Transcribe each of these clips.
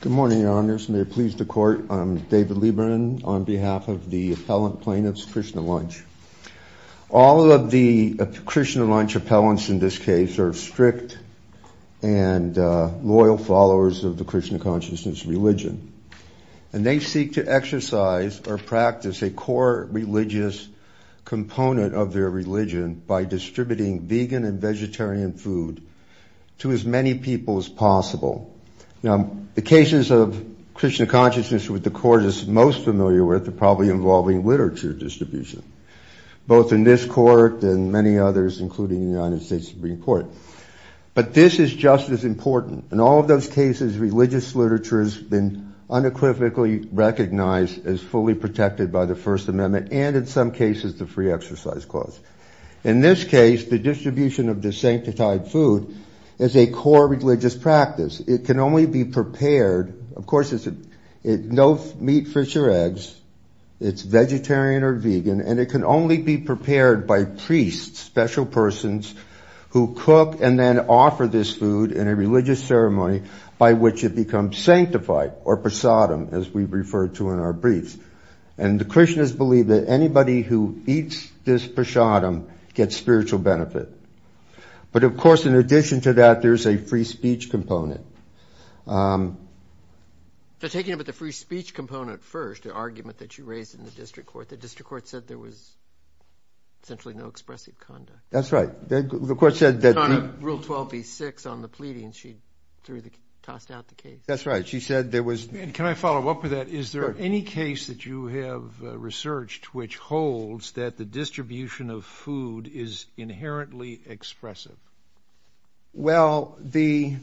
Good morning, Your Honors. May it please the Court, I'm David Lieberman on behalf of the appellant plaintiffs, Krishna Lunch. All of the Krishna Lunch appellants in this case are strict and loyal followers of the Krishna Consciousness religion, and they seek to exercise or practice a core religious component of their religion by distributing vegan and vegetarian food to as many people as possible. Now, the cases of Krishna Consciousness which the Court is most familiar with are probably involving literature distribution, both in this Court and many others, including the United States Supreme Court. But this is just as important. In all of those cases, religious literature has been unequivocally recognized as fully protected by the First is a core religious practice. It can only be prepared, of course it's no meat, fish, or eggs, it's vegetarian or vegan, and it can only be prepared by priests, special persons, who cook and then offer this food in a religious ceremony by which it becomes sanctified, or prasadam, as we refer to in our briefs. And the Krishnas believe that anybody who eats this prasadam gets spiritual benefit. But of course, in addition to that, there's a free speech component. Taking up the free speech component first, the argument that you raised in the District Court, the District Court said there was essentially no expressive conduct. That's right. The Court said that... Rule 12b-6 on the pleading, she tossed out the case. That's right. She said there was... Can I follow up with that? Is there any case that you have researched which holds that the Well, the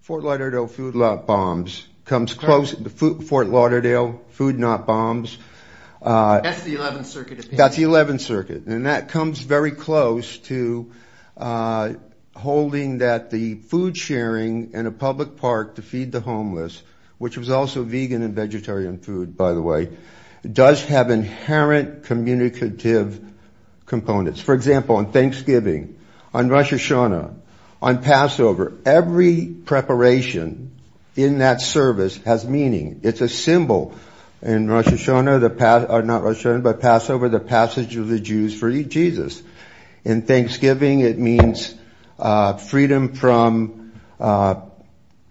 Fort Lauderdale Food Not Bombs comes close... Fort Lauderdale Food Not Bombs. That's the 11th Circuit. That's the 11th Circuit. And that comes very close to holding that the food sharing in a public park to feed the homeless, which was also vegan and vegetarian food, by the way, does have inherent communicative components. For example, on Thanksgiving, on Rosh Hashanah, on Passover, every preparation in that service has meaning. It's a symbol. In Rosh Hashanah, not Rosh Hashanah, but Passover, the passage of the Jews for Jesus. In Thanksgiving, it means freedom from the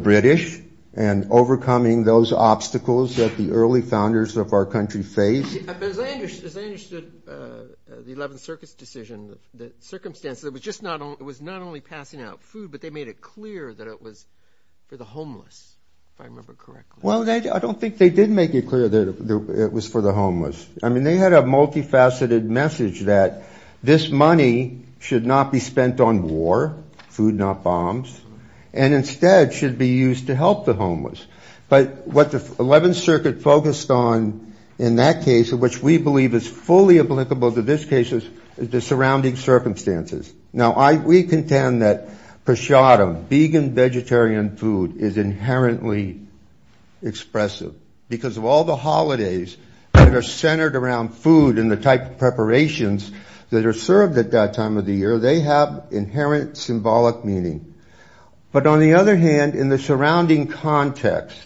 British and overcoming those obstacles that the early founders of our country faced. But as I understood the 11th Circuit's decision, the circumstances, it was not only passing out food, but they made it clear that it was for the homeless, if I remember correctly. Well, I don't think they did make it clear that it was for the homeless. I mean, they had a multifaceted message that this money should not be spent on war, food not bombs, and instead should be used to help the fully applicable to this case is the surrounding circumstances. Now, we contend that prashadam, vegan, vegetarian food, is inherently expressive because of all the holidays that are centered around food and the type of preparations that are served at that time of the year, they have inherent symbolic meaning. But on the other hand, in the surrounding context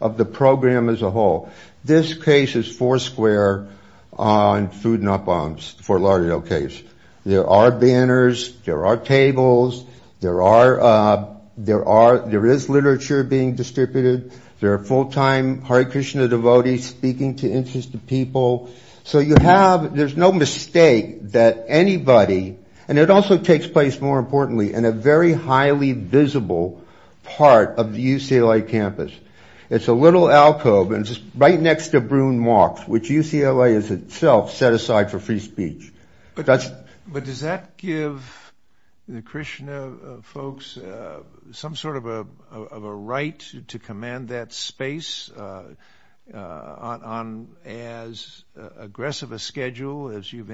of the program as a whole, this case is foursquare on food not bombs, Fort Lauderdale case. There are banners, there are tables, there is literature being distributed, there are full time Hare Krishna devotees speaking to interested people. So you have, there's no mistake that anybody, and it also takes place, more importantly, in a very highly visible part of the UCLA campus. It's a little alcove and just right next to Bruin Marks, which UCLA is itself set aside for free speech. But does that give the Krishna folks some sort of a right to command that space on as aggressive a schedule as you've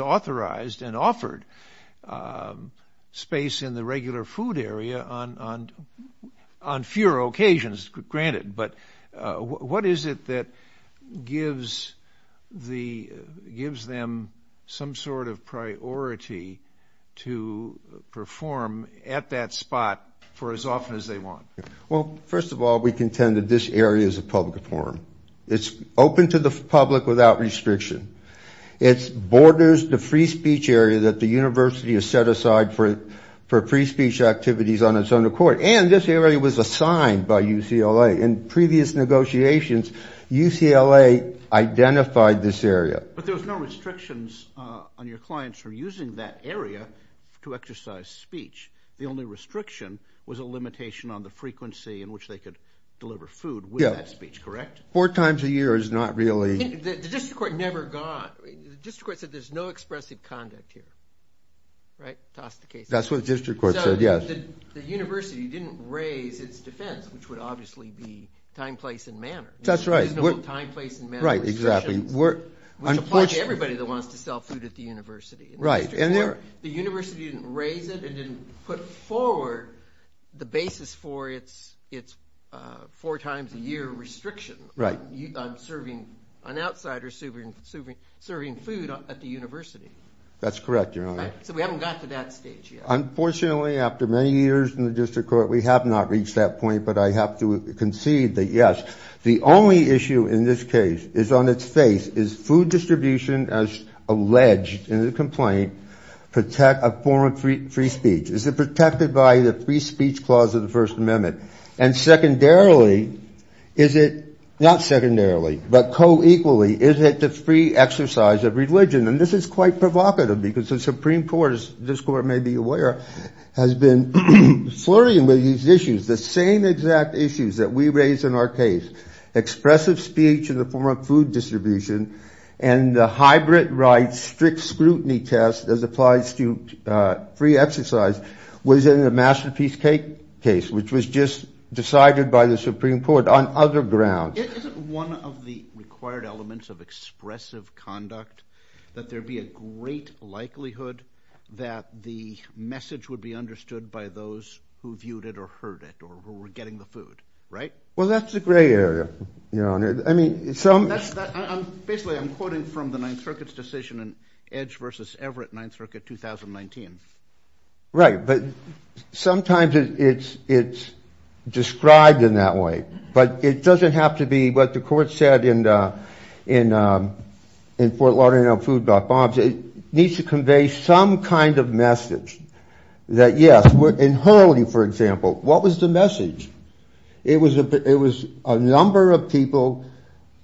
authorized and offered space in the regular food area on fewer occasions, granted, but what is it that gives them some sort of priority to perform at that spot for as often as they want? Well, first of all, we contend that this area is a public forum. It's open to the public without restriction. It borders the free speech area that the university has set aside for free speech activities on its own accord. And this area was assigned by UCLA. In previous negotiations, UCLA identified this area. But there was no restrictions on your clients for using that area to exercise speech. The only restriction was a limitation on the frequency in which they could deliver food with that speech, correct? Four times a year is not really- The district court never got- the district court said there's no expressive conduct here, right? Toss the case. That's what the district court said, yes. The university didn't raise its defense, which would obviously be time, place, and manner. That's right. There's no time, place, and manner restrictions, which apply to everybody that wants to sell food at the university. Right. The university didn't raise it and didn't put forward the basis for its four times a year restriction- Right. On serving- on outsiders serving food at the university. That's correct, Your Honor. So we haven't got to that stage yet. Unfortunately, after many years in the district court, we have not reached that point. But I have to concede that, yes, the only issue in this case is on its face. Is food distribution, as alleged in the complaint, a form of free speech? Is it protected by the free speech clause of the First Amendment? And secondarily, is it- not secondarily, but co-equally, is it the free exercise of religion? And this is quite provocative because the Supreme Court, as this Court may be aware, has been flurrying with these issues. The same exact issues that we raised in our case, expressive speech in the form of food distribution and the hybrid right strict scrutiny test as applies to free exercise, was in the Masterpiece Cake case, which was just decided by the Supreme Court on other grounds. Isn't one of the required elements of expressive conduct that there be a great likelihood that the message would be understood by those who viewed it or heard it or who were getting the food, right? Well, that's the gray area, Your Honor. I mean, some- Basically, I'm quoting from the Ninth Circuit's decision in Edge v. Everett, Ninth Circuit, 2019. Right, but sometimes it's described in that way. But it doesn't have to be what the Court said in Fort Lauderdale Food Bar bombs. It needs to convey some kind of message that, yes, in Hurley, for example, what was the message? It was a number of people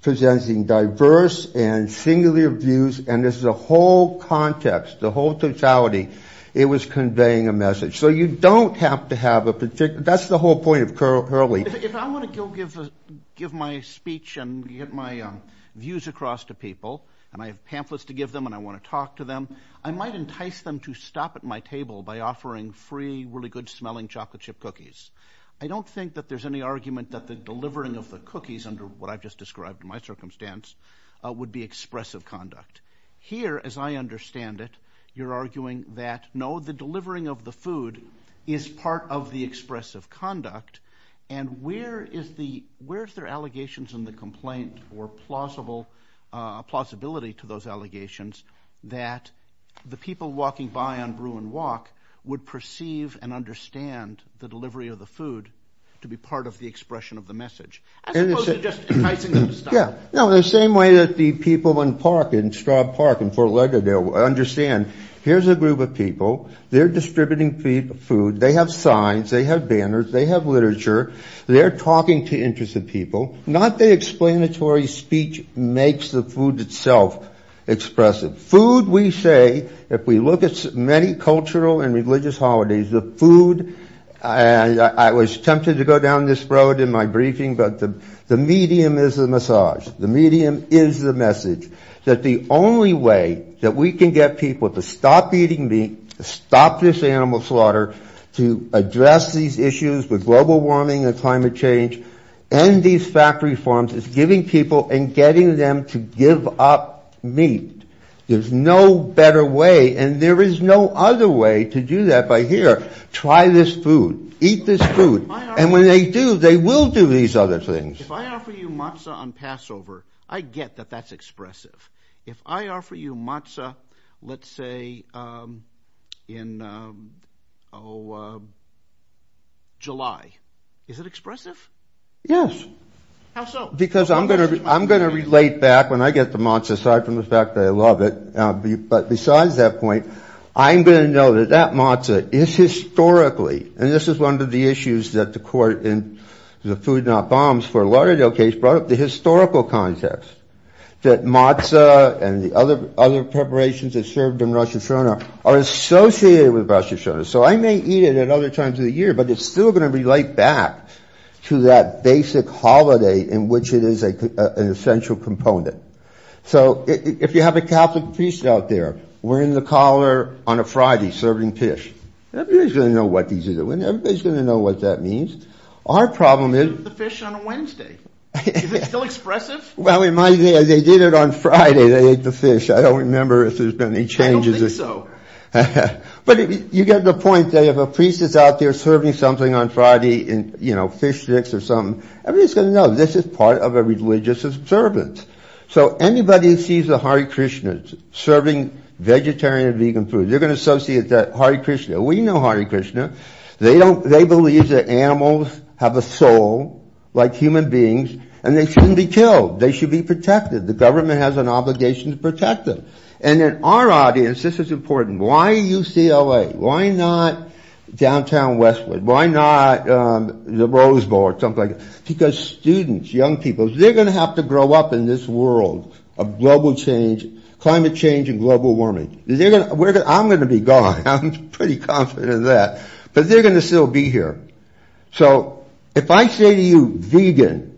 presenting diverse and singular views, and this is a whole context, the whole totality. It was conveying a message. So you don't have to have a particular- that's the whole point of Hurley. If I want to go give my speech and get my views across to people, and I have pamphlets to give them and I want to talk to them, I might entice them to stop at my table by offering free, really good-smelling chocolate chip cookies. I don't think that there's any argument that the delivering of the cookies under what I've just described in my circumstance would be expressive conduct. Here, as I understand it, you're arguing that, no, the delivering of the food is part of the expressive conduct, and where is there allegations in the complaint or plausibility to those allegations that the people walking by on Bruin Walk would perceive and understand the delivery of the food to be part of the expression of the message, as opposed to just enticing them to stop? Yeah. No, the same way that the people in Park, in Straub Park in Fort Lauderdale, understand here's a group of people. They're distributing food. They have signs. They have banners. They have literature. They're talking to interested people. Not the explanatory speech makes the food itself expressive. Food, we say, if we look at many cultural and religious holidays, the food, I was tempted to go down this road in my briefing, but the medium is the message, the medium is the message, that the only way that we can get people to stop eating meat, stop this animal slaughter, to address these issues with global warming and climate change, end these factory farms, is giving people and getting them to give up meat. There's no better way, and there is no other way to do that by here. Try this food. Eat this food. And when they do, they will do these other things. If I offer you matzah on Passover, I get that that's expressive. If I offer you matzah, let's say, in July, is it expressive? Yes. How so? Because I'm going to relate back when I get to matzah, aside from the fact that I love it. But besides that point, I'm going to know that that matzah is historically, and this is one of the issues that the court in the Food Not Bombs for Laredo case brought up, the historical context, that matzah and the other preparations that served in Rosh Hashanah are associated with Rosh Hashanah. So I may eat it at other times of the year, but it's still going to relate back to that basic holiday in which it is an essential component. So if you have a Catholic priest out there wearing the collar on a Friday serving fish, everybody's going to know what these are doing. Everybody's going to know what that means. Our problem is... They ate the fish on a Wednesday. Is it still expressive? Well, in my day, they did it on Friday. They ate the fish. I don't remember if there's been any changes. I don't think so. But you get the point. If a priest is out there serving something on Friday, you know, fish sticks or something, everybody's going to know this is part of a religious observance. So anybody who sees a Hare Krishna serving vegetarian and vegan food, they're going to associate that Hare Krishna. We know Hare Krishna. They believe that animals have a soul, like human beings, and they shouldn't be killed. They should be protected. The government has an obligation to protect them. And in our audience, this is important. Why UCLA? Why not downtown Westwood? Why not the Rose Bowl or something like that? Because students, young people, they're going to have to grow up in this world of global change, climate change and global warming. I'm going to be gone. I'm pretty confident of that. But they're going to still be here. So if I say to you vegan,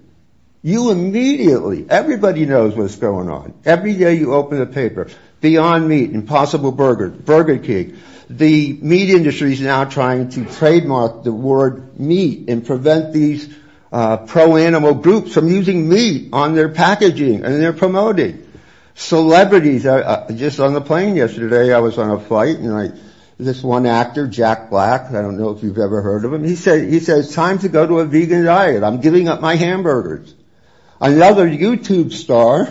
you immediately, everybody knows what's going on. Every day you open the paper, Beyond Meat, Impossible Burger, Burger King. The meat industry is now trying to trademark the word meat and prevent these pro-animal groups from using meat on their packaging. And they're promoting. Celebrities are just on the plane yesterday. I was on a flight and this one actor, Jack Black. I don't know if you've ever heard of him. He said it's time to go to a vegan diet. I'm giving up my hamburgers. Another YouTube star.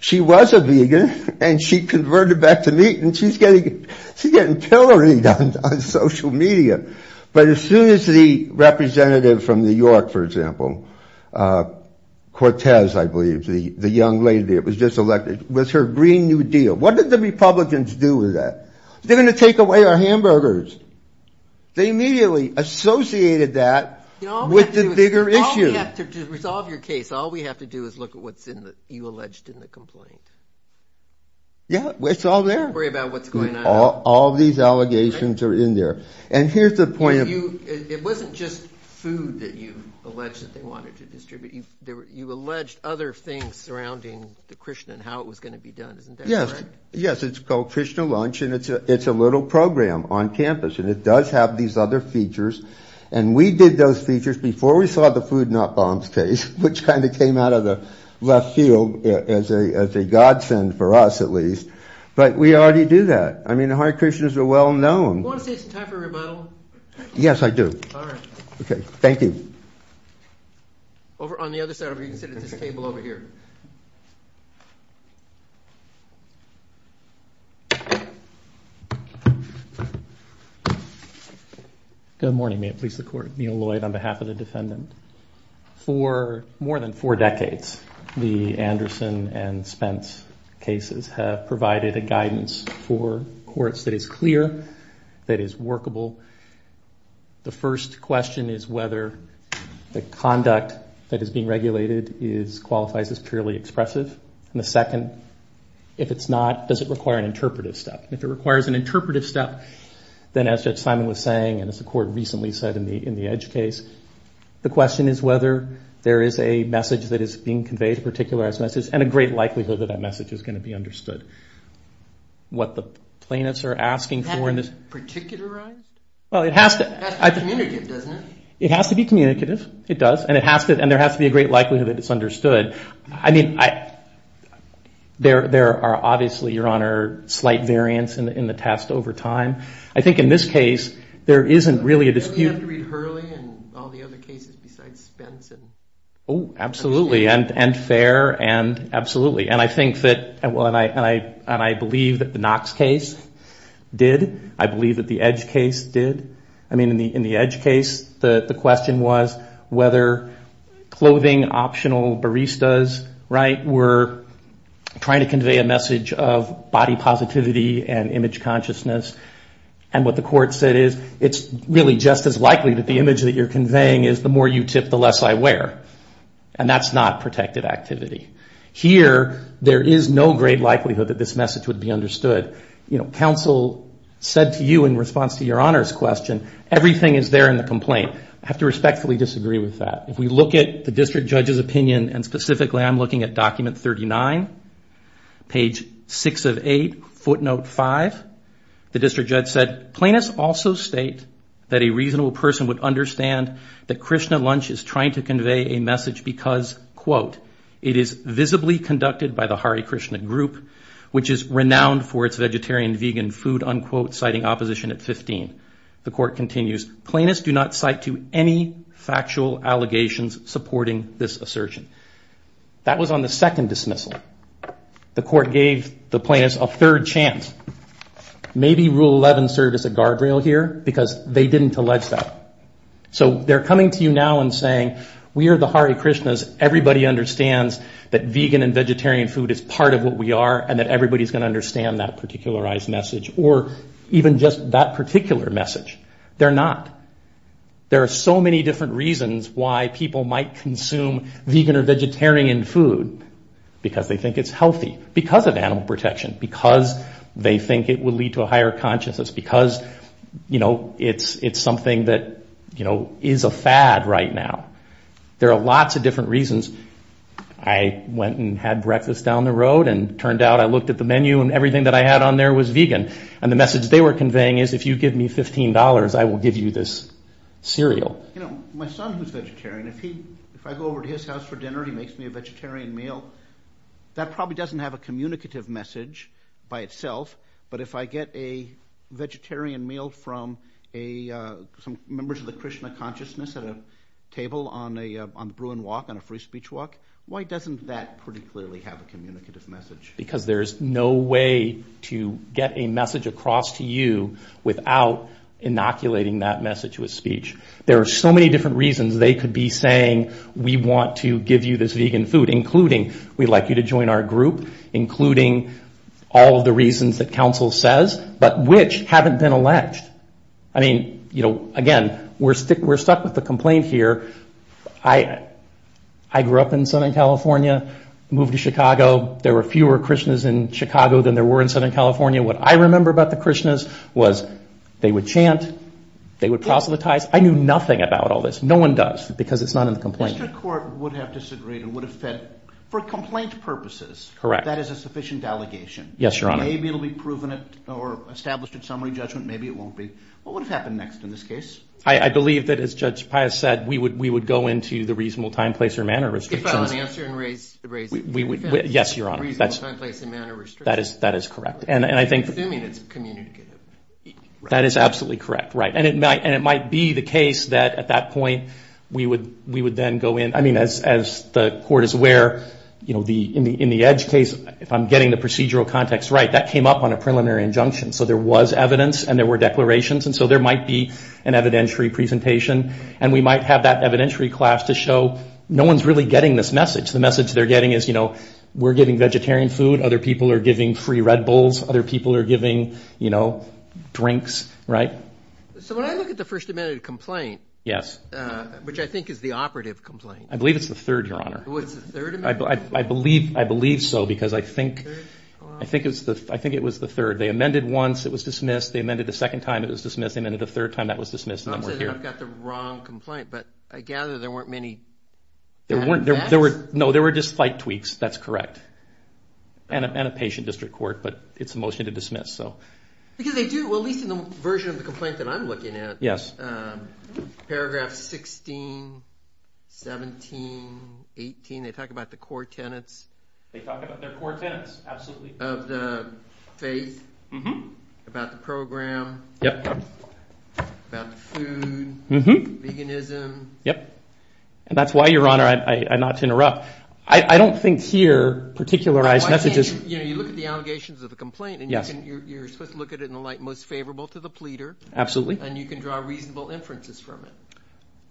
She was a vegan and she converted back to meat and she's getting pillory on social media. But as soon as the representative from New York, for example, Cortez, I believe, the young lady, it was just elected, was her Green New Deal. What did the Republicans do with that? They're going to take away our hamburgers. They immediately associated that with the bigger issue. To resolve your case, all we have to do is look at what you alleged in the complaint. Yeah, it's all there. Worry about what's going on. All these allegations are in there. And here's the point. It wasn't just food that you alleged that they wanted to distribute. You alleged other things surrounding the Krishna and how it was going to be done. Yes, it's called Krishna Lunch and it's a little program on campus. And it does have these other features. And we did those features before we saw the food not bombs case, which kind of came out of the left field as a godsend for us, at least. But we already do that. I mean, the Hare Krishnas are well known. Do you want to say it's time for a rebuttal? Yes, I do. All right. Okay, thank you. On the other side, we can sit at this table over here. Good morning. May it please the Court. Neil Lloyd on behalf of the defendant. For more than four decades, the Anderson and Spence cases have provided a guidance for courts that is clear, that is workable. The first question is whether the conduct that is being regulated qualifies as purely expressive. And the second, if it's not, does it require an interpretive step? If it requires an interpretive step, then as Judge Simon was saying, and as the Court recently said in the Edge case, the question is whether there is a message that is being conveyed, a particularized message, and a great likelihood that that message is going to be understood. What the plaintiffs are asking for in this. Particularized? Well, it has to. It has to be communicative, doesn't it? It has to be communicative. It does. And there has to be a great likelihood that it's understood. I mean, there are obviously, Your Honor, slight variants in the test over time. I think in this case, there isn't really a dispute. Do we have to read Hurley and all the other cases besides Spence? Oh, absolutely, and Fair, and absolutely. And I think that, and I believe that the Knox case did. I believe that the Edge case did. I mean, in the Edge case, the question was whether clothing, optional baristas, right, were trying to convey a message of body positivity and image consciousness. And what the Court said is, it's really just as likely that the image that you're conveying is, the more you tip, the less I wear. And that's not protective activity. Here, there is no great likelihood that this message would be understood. You know, counsel said to you in response to Your Honor's question, everything is there in the complaint. I have to respectfully disagree with that. If we look at the district judge's opinion, and specifically I'm looking at document 39, page 6 of 8, footnote 5, the district judge said, plaintiffs also state that a reasonable person would understand that Krishna Lunch is trying to convey a message because, quote, it is visibly conducted by the Hare Krishna group, which is renowned for its vegetarian-vegan food, unquote, citing opposition at 15. The Court continues, plaintiffs do not cite to any factual allegations supporting this assertion. That was on the second dismissal. The Court gave the plaintiffs a third chance. Maybe Rule 11 served as a guardrail here because they didn't allege that. So they're coming to you now and saying, we are the Hare Krishnas, everybody understands that vegan and vegetarian food is part of what we are and that everybody's going to understand that particularized message or even just that particular message. They're not. There are so many different reasons why people might consume vegan or vegetarian food, because they think it's healthy, because of animal protection, because they think it will lead to a higher consciousness, because it's something that is a fad right now. There are lots of different reasons. I went and had breakfast down the road and turned out I looked at the menu and everything that I had on there was vegan. And the message they were conveying is, if you give me $15, I will give you this cereal. My son who's vegetarian, if I go over to his house for dinner, he makes me a vegetarian meal, that probably doesn't have a communicative message by itself, but if I get a vegetarian meal from some members of the Krishna consciousness at a table on the Bruin Walk, on a free speech walk, why doesn't that pretty clearly have a communicative message? Because there's no way to get a message across to you without inoculating that message with speech. There are so many different reasons they could be saying, we want to give you this vegan food, including we'd like you to join our group, including all of the reasons that counsel says, but which haven't been alleged. Again, we're stuck with the complaint here. I grew up in Southern California, moved to Chicago. There were fewer Krishnas in Chicago than there were in Southern California. What I remember about the Krishnas was they would chant, they would proselytize. I knew nothing about all this. No one does because it's not in the complaint. If the district court would have disagreed and would have said, for complaint purposes, that is a sufficient allegation, maybe it will be proven or established in summary judgment, maybe it won't be, what would have happened next in this case? I believe that, as Judge Pius said, we would go into the reasonable time, place, or manner restrictions. Yes, Your Honor. Reasonable time, place, and manner restrictions. That is correct. Assuming it's communicative. That is absolutely correct. It might be the case that, at that point, we would then go in. As the Court is aware, in the Edge case, if I'm getting the procedural context right, that came up on a preliminary injunction. There was evidence and there were declarations. There might be an evidentiary presentation. We might have that evidentiary class to show no one's really getting this message. The message they're getting is we're giving vegetarian food, other people are giving free Red Bulls, other people are giving drinks. When I look at the first amended complaint, which I think is the operative complaint. I believe it's the third, Your Honor. I believe so because I think it was the third. They amended once, it was dismissed. They amended a second time, it was dismissed. They amended a third time, that was dismissed, and then we're here. I've got the wrong complaint, but I gather there weren't many facts? No, there were just slight tweaks. That's correct. And a patient district court, but it's a motion to dismiss. Because they do, at least in the version of the complaint that I'm looking at. Yes. Paragraph 16, 17, 18, they talk about the core tenets. They talk about their core tenets, absolutely. Of the faith, about the program, about the food, veganism. Yep, and that's why, Your Honor, I'm not to interrupt. I don't think here, particularized messages. You look at the allegations of the complaint, and you're supposed to look at it in the light most favorable to the pleader. Absolutely. And you can draw reasonable inferences from it.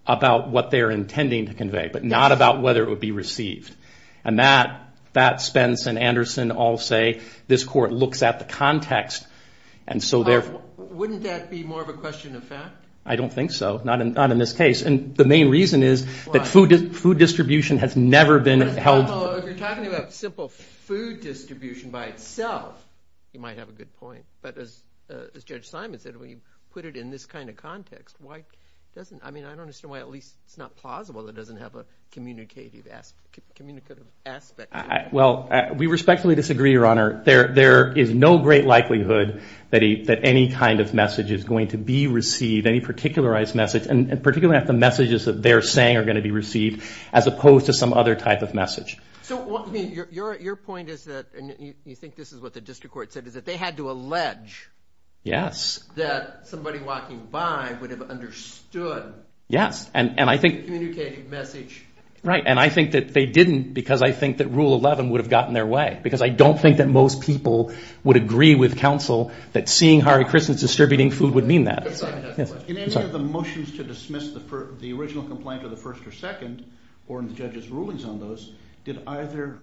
About what they're intending to convey, but not about whether it would be received. And that, Spence and Anderson all say, this court looks at the context. Wouldn't that be more of a question of fact? I don't think so, not in this case. And the main reason is that food distribution has never been held. If you're talking about simple food distribution by itself, you might have a good point. But as Judge Simon said, when you put it in this kind of context, why doesn't, I mean, I don't understand why at least it's not plausible that it doesn't have a communicative aspect to it. Well, we respectfully disagree, Your Honor. There is no great likelihood that any kind of message is going to be received, any particularized message, and particularly if the messages that they're saying are going to be received, as opposed to some other type of message. So, I mean, your point is that, and you think this is what the district court said, is that they had to allege that somebody walking by would have understood the communicative message. Right, and I think that they didn't because I think that Rule 11 would have gotten their way because I don't think that most people would agree with counsel that seeing Harry Christens distributing food would mean that. In any of the motions to dismiss the original complaint of the first or second, or in the judge's rulings on those, did either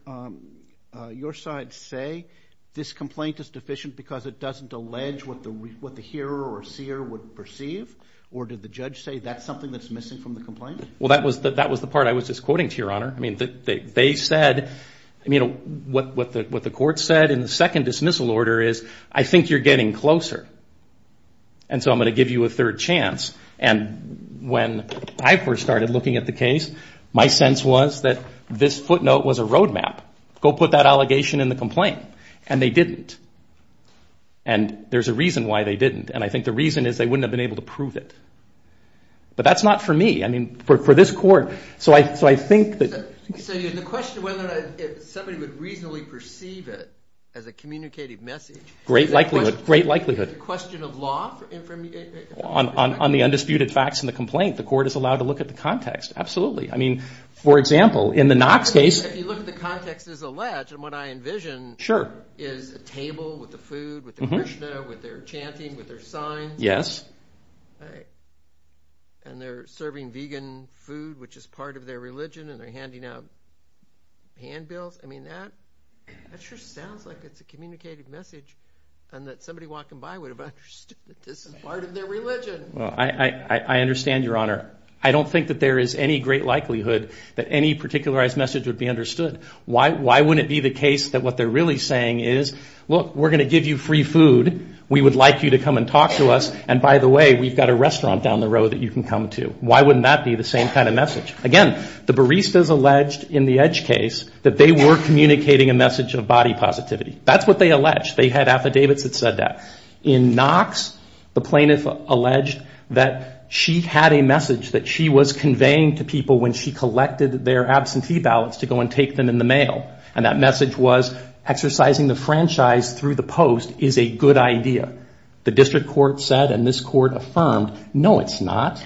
your side say this complaint is deficient because it doesn't allege what the hearer or seer would perceive, or did the judge say that's something that's missing from the complaint? Well, that was the part I was just quoting to you, Your Honor. I mean, they said, I mean, what the court said in the second dismissal order is, I think you're getting closer, and so I'm going to give you a third chance. And when I first started looking at the case, my sense was that this footnote was a road map. Go put that allegation in the complaint. And they didn't. And there's a reason why they didn't. And I think the reason is they wouldn't have been able to prove it. But that's not for me. I mean, for this court, so I think that. So the question of whether somebody would reasonably perceive it as a communicated message. Great likelihood, great likelihood. Is it a question of law? On the undisputed facts in the complaint, the court is allowed to look at the context. Absolutely. I mean, for example, in the Knox case. If you look at the context as alleged, and what I envision is a table with the food, with the Krishna, with their chanting, with their signs. Yes. And they're serving vegan food, which is part of their religion. And they're handing out handbills. I mean, that sure sounds like it's a communicated message. And that somebody walking by would have understood that this is part of their religion. Well, I understand, Your Honor. I don't think that there is any great likelihood that any particularized message would be understood. Why wouldn't it be the case that what they're really saying is, look, we're going to give you free food. We would like you to come and talk to us. And, by the way, we've got a restaurant down the road that you can come to. Why wouldn't that be the same kind of message? Again, the baristas alleged in the Edge case that they were communicating a message of body positivity. That's what they alleged. They had affidavits that said that. In Knox, the plaintiff alleged that she had a message that she was conveying to people when she collected their absentee ballots to go and take them in the mail. And that message was, exercising the franchise through the post is a good idea. The district court said and this court affirmed, no, it's not.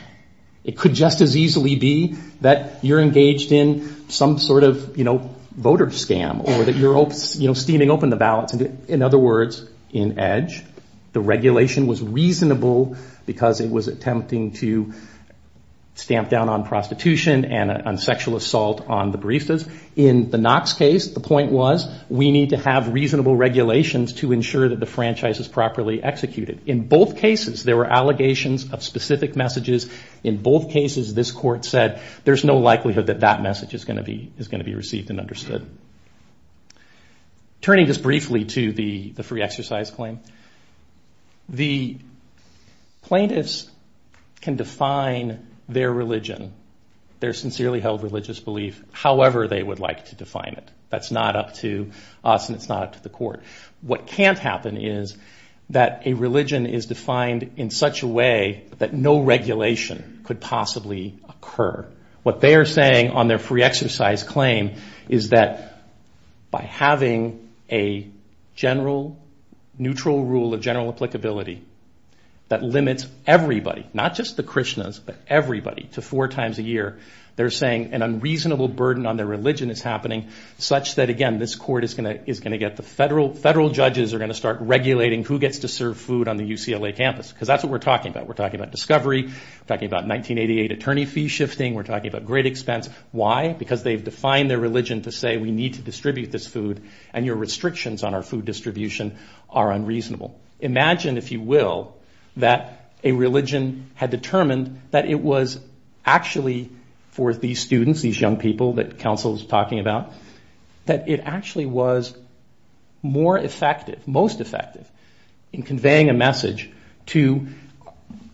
It could just as easily be that you're engaged in some sort of voter scam or that you're steaming open the ballots. In other words, in Edge, the regulation was reasonable because it was attempting to stamp down on prostitution and on sexual assault on the baristas. In the Knox case, the point was we need to have reasonable regulations to ensure that the franchise is properly executed. In both cases, there were allegations of specific messages. In both cases, this court said there's no likelihood that that message is going to be received and understood. Turning just briefly to the free exercise claim, the plaintiffs can define their religion, their sincerely held religious belief, however they would like to define it. That's not up to us and it's not up to the court. What can't happen is that a religion is defined in such a way that no regulation could possibly occur. What they are saying on their free exercise claim is that by having a general, neutral rule of general applicability that limits everybody, not just the Krishnas, but everybody to four times a year, they're saying an unreasonable burden on their religion is happening. Such that, again, this court is going to get the federal judges are going to start regulating who gets to serve food on the UCLA campus because that's what we're talking about. We're talking about discovery. We're talking about 1988 attorney fee shifting. We're talking about great expense. Why? Because they've defined their religion to say we need to distribute this food and your restrictions on our food distribution are unreasonable. Imagine, if you will, that a religion had determined that it was actually for these students, these young people that counsel is talking about, that it actually was more effective, most effective in conveying a message to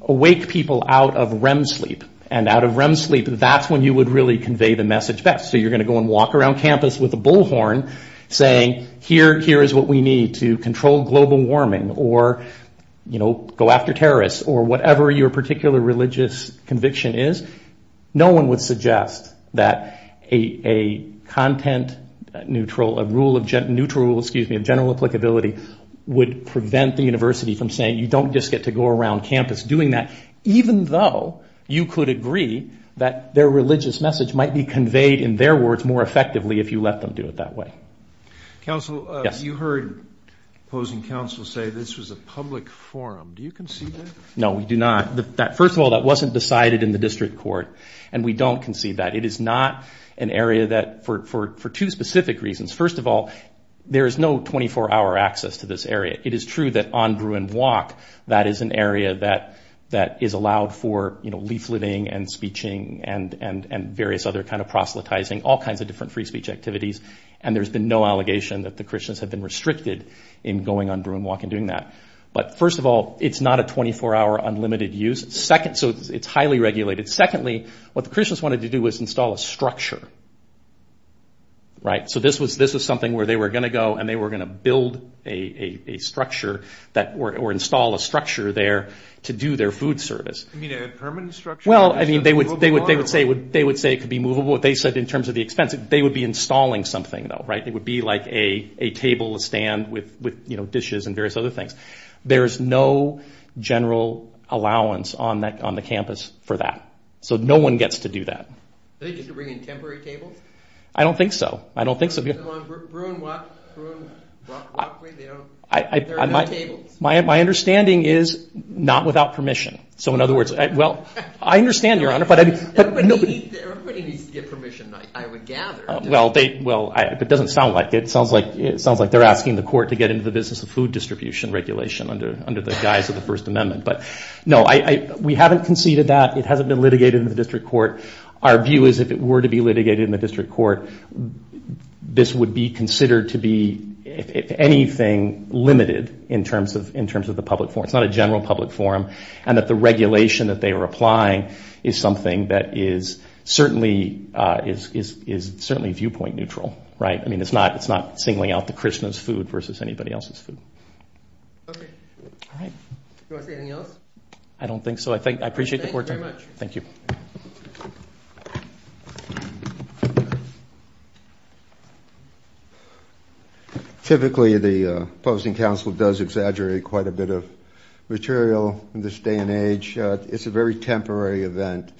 awake people out of REM sleep. And out of REM sleep, that's when you would really convey the message best. So you're going to go and walk around campus with a bullhorn saying, here is what we need to control global warming or go after terrorists or whatever your particular religious conviction is. No one would suggest that a content neutral rule of general applicability would prevent the university from saying you don't just get to go around campus doing that, even though you could agree that their religious message might be conveyed in their words more effectively if you let them do it that way. Counsel, you heard opposing counsel say this was a public forum. Do you concede that? No, we do not. First of all, that wasn't decided in the district court, and we don't concede that. It is not an area that for two specific reasons. First of all, there is no 24-hour access to this area. It is true that on Bruin Walk that is an area that is allowed for leafleting and speeching and various other kind of proselytizing, all kinds of different free speech activities, and there's been no allegation that the Christians have been restricted in going on Bruin Walk and doing that. But first of all, it's not a 24-hour unlimited use, so it's highly regulated. Secondly, what the Christians wanted to do was install a structure. So this was something where they were going to go and they were going to build a structure or install a structure there to do their food service. You mean a permanent structure? Well, they would say it could be movable. They said in terms of the expense, they would be installing something, though. It would be like a table, a stand with dishes and various other things. There is no general allowance on the campus for that. So no one gets to do that. Do they get to bring in temporary tables? I don't think so. On Bruin Walk? There are no tables? My understanding is not without permission. So in other words, well, I understand, Your Honor. Everybody needs to get permission, I would gather. It doesn't sound like it. It sounds like they're asking the court to get into the business of food distribution regulation under the guise of the First Amendment. But no, we haven't conceded that. It hasn't been litigated in the district court. Our view is if it were to be litigated in the district court, this would be considered to be, if anything, limited in terms of the public forum. It's not a general public forum. And that the regulation that they are applying is something that is certainly viewpoint neutral. I mean, it's not singling out the Christmas food versus anybody else's food. Okay. Do you want to say anything else? I don't think so. I appreciate the court time. Thank you very much. Thank you. Thank you. Typically, the opposing counsel does exaggerate quite a bit of material in this day and age. It's a very temporary event.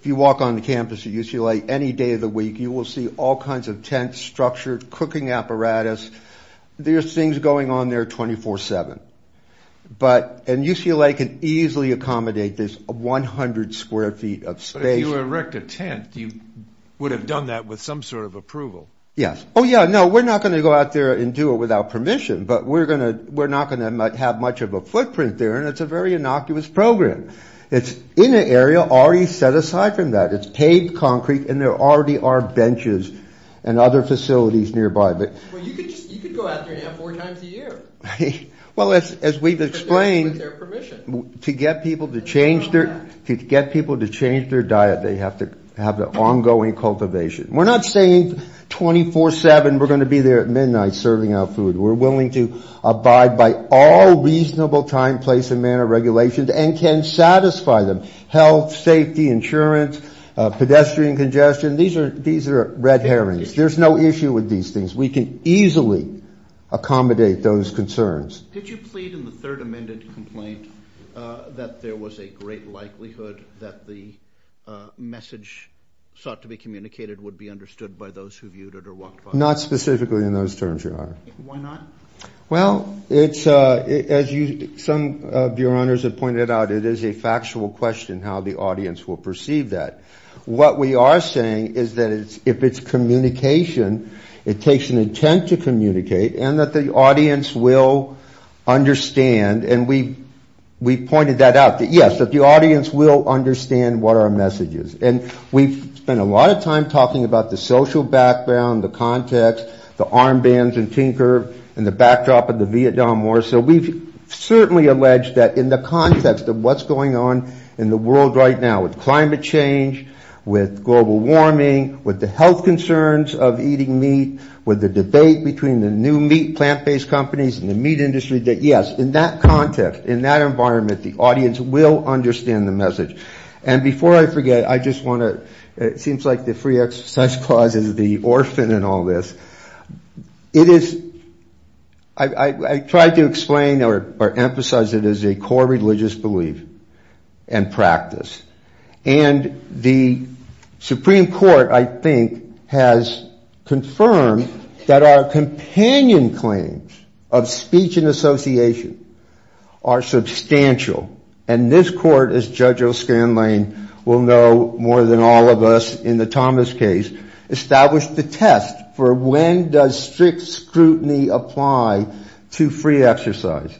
If you walk on the campus at UCLA any day of the week, you will see all kinds of tents, structure, cooking apparatus. There's things going on there 24-7. And UCLA can easily accommodate this 100 square feet of space. But if you erect a tent, you would have done that with some sort of approval. Yes. Oh, yeah. No, we're not going to go out there and do it without permission. But we're not going to have much of a footprint there. And it's a very innocuous program. It's in an area already set aside from that. It's paved concrete. And there already are benches and other facilities nearby. But you could go out there and have four times a year. Well, as we've explained, to get people to change their diet, they have to have the ongoing cultivation. We're not saying 24-7 we're going to be there at midnight serving our food. We're willing to abide by all reasonable time, place, and manner regulations and can satisfy them, health, safety, insurance, pedestrian congestion. These are red herrings. There's no issue with these things. We can easily accommodate those concerns. Did you plead in the third amended complaint that there was a great likelihood that the message sought to be communicated would be understood by those who viewed it or walked by it? Not specifically in those terms, Your Honor. Why not? Well, as some of Your Honors have pointed out, it is a factual question how the audience will perceive that. What we are saying is that if it's communication, it takes an intent to communicate and that the audience will understand. And we pointed that out. Yes, that the audience will understand what our message is. And we've spent a lot of time talking about the social background, the context, the armbands and Tinker and the backdrop of the Vietnam War. So we've certainly alleged that in the context of what's going on in the world right now with climate change, with global warming, with the health concerns of eating meat, with the debate between the new meat plant-based companies and the meat industry, that, yes, in that context, in that environment, the audience will understand the message. And before I forget, I just want to – it seems like the free exercise clause is the orphan in all this. It is – I tried to explain or emphasize it as a core religious belief and practice. And the Supreme Court, I think, has confirmed that our companion claims of speech and association are substantial. And this Court, as Judge O'Scanlain will know more than all of us in the Thomas case, established the test for when does strict scrutiny apply to free exercise.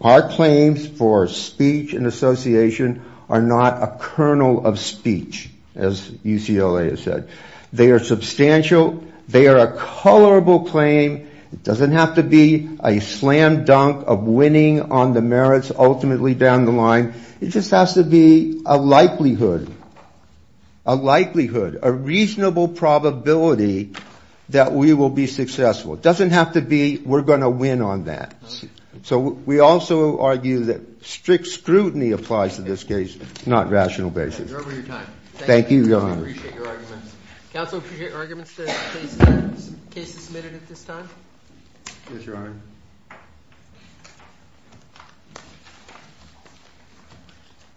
Our claims for speech and association are not a kernel of speech, as UCLA has said. They are substantial. They are a colorable claim. It doesn't have to be a slam dunk of winning on the merits ultimately down the line. It just has to be a likelihood, a likelihood, a reasonable probability that we will be successful. It doesn't have to be we're going to win on that. So we also argue that strict scrutiny applies to this case, not rational basis. Thank you, Your Honor. I appreciate your arguments. Counsel, appreciate your arguments that the case is submitted at this time. Yes, Your Honor.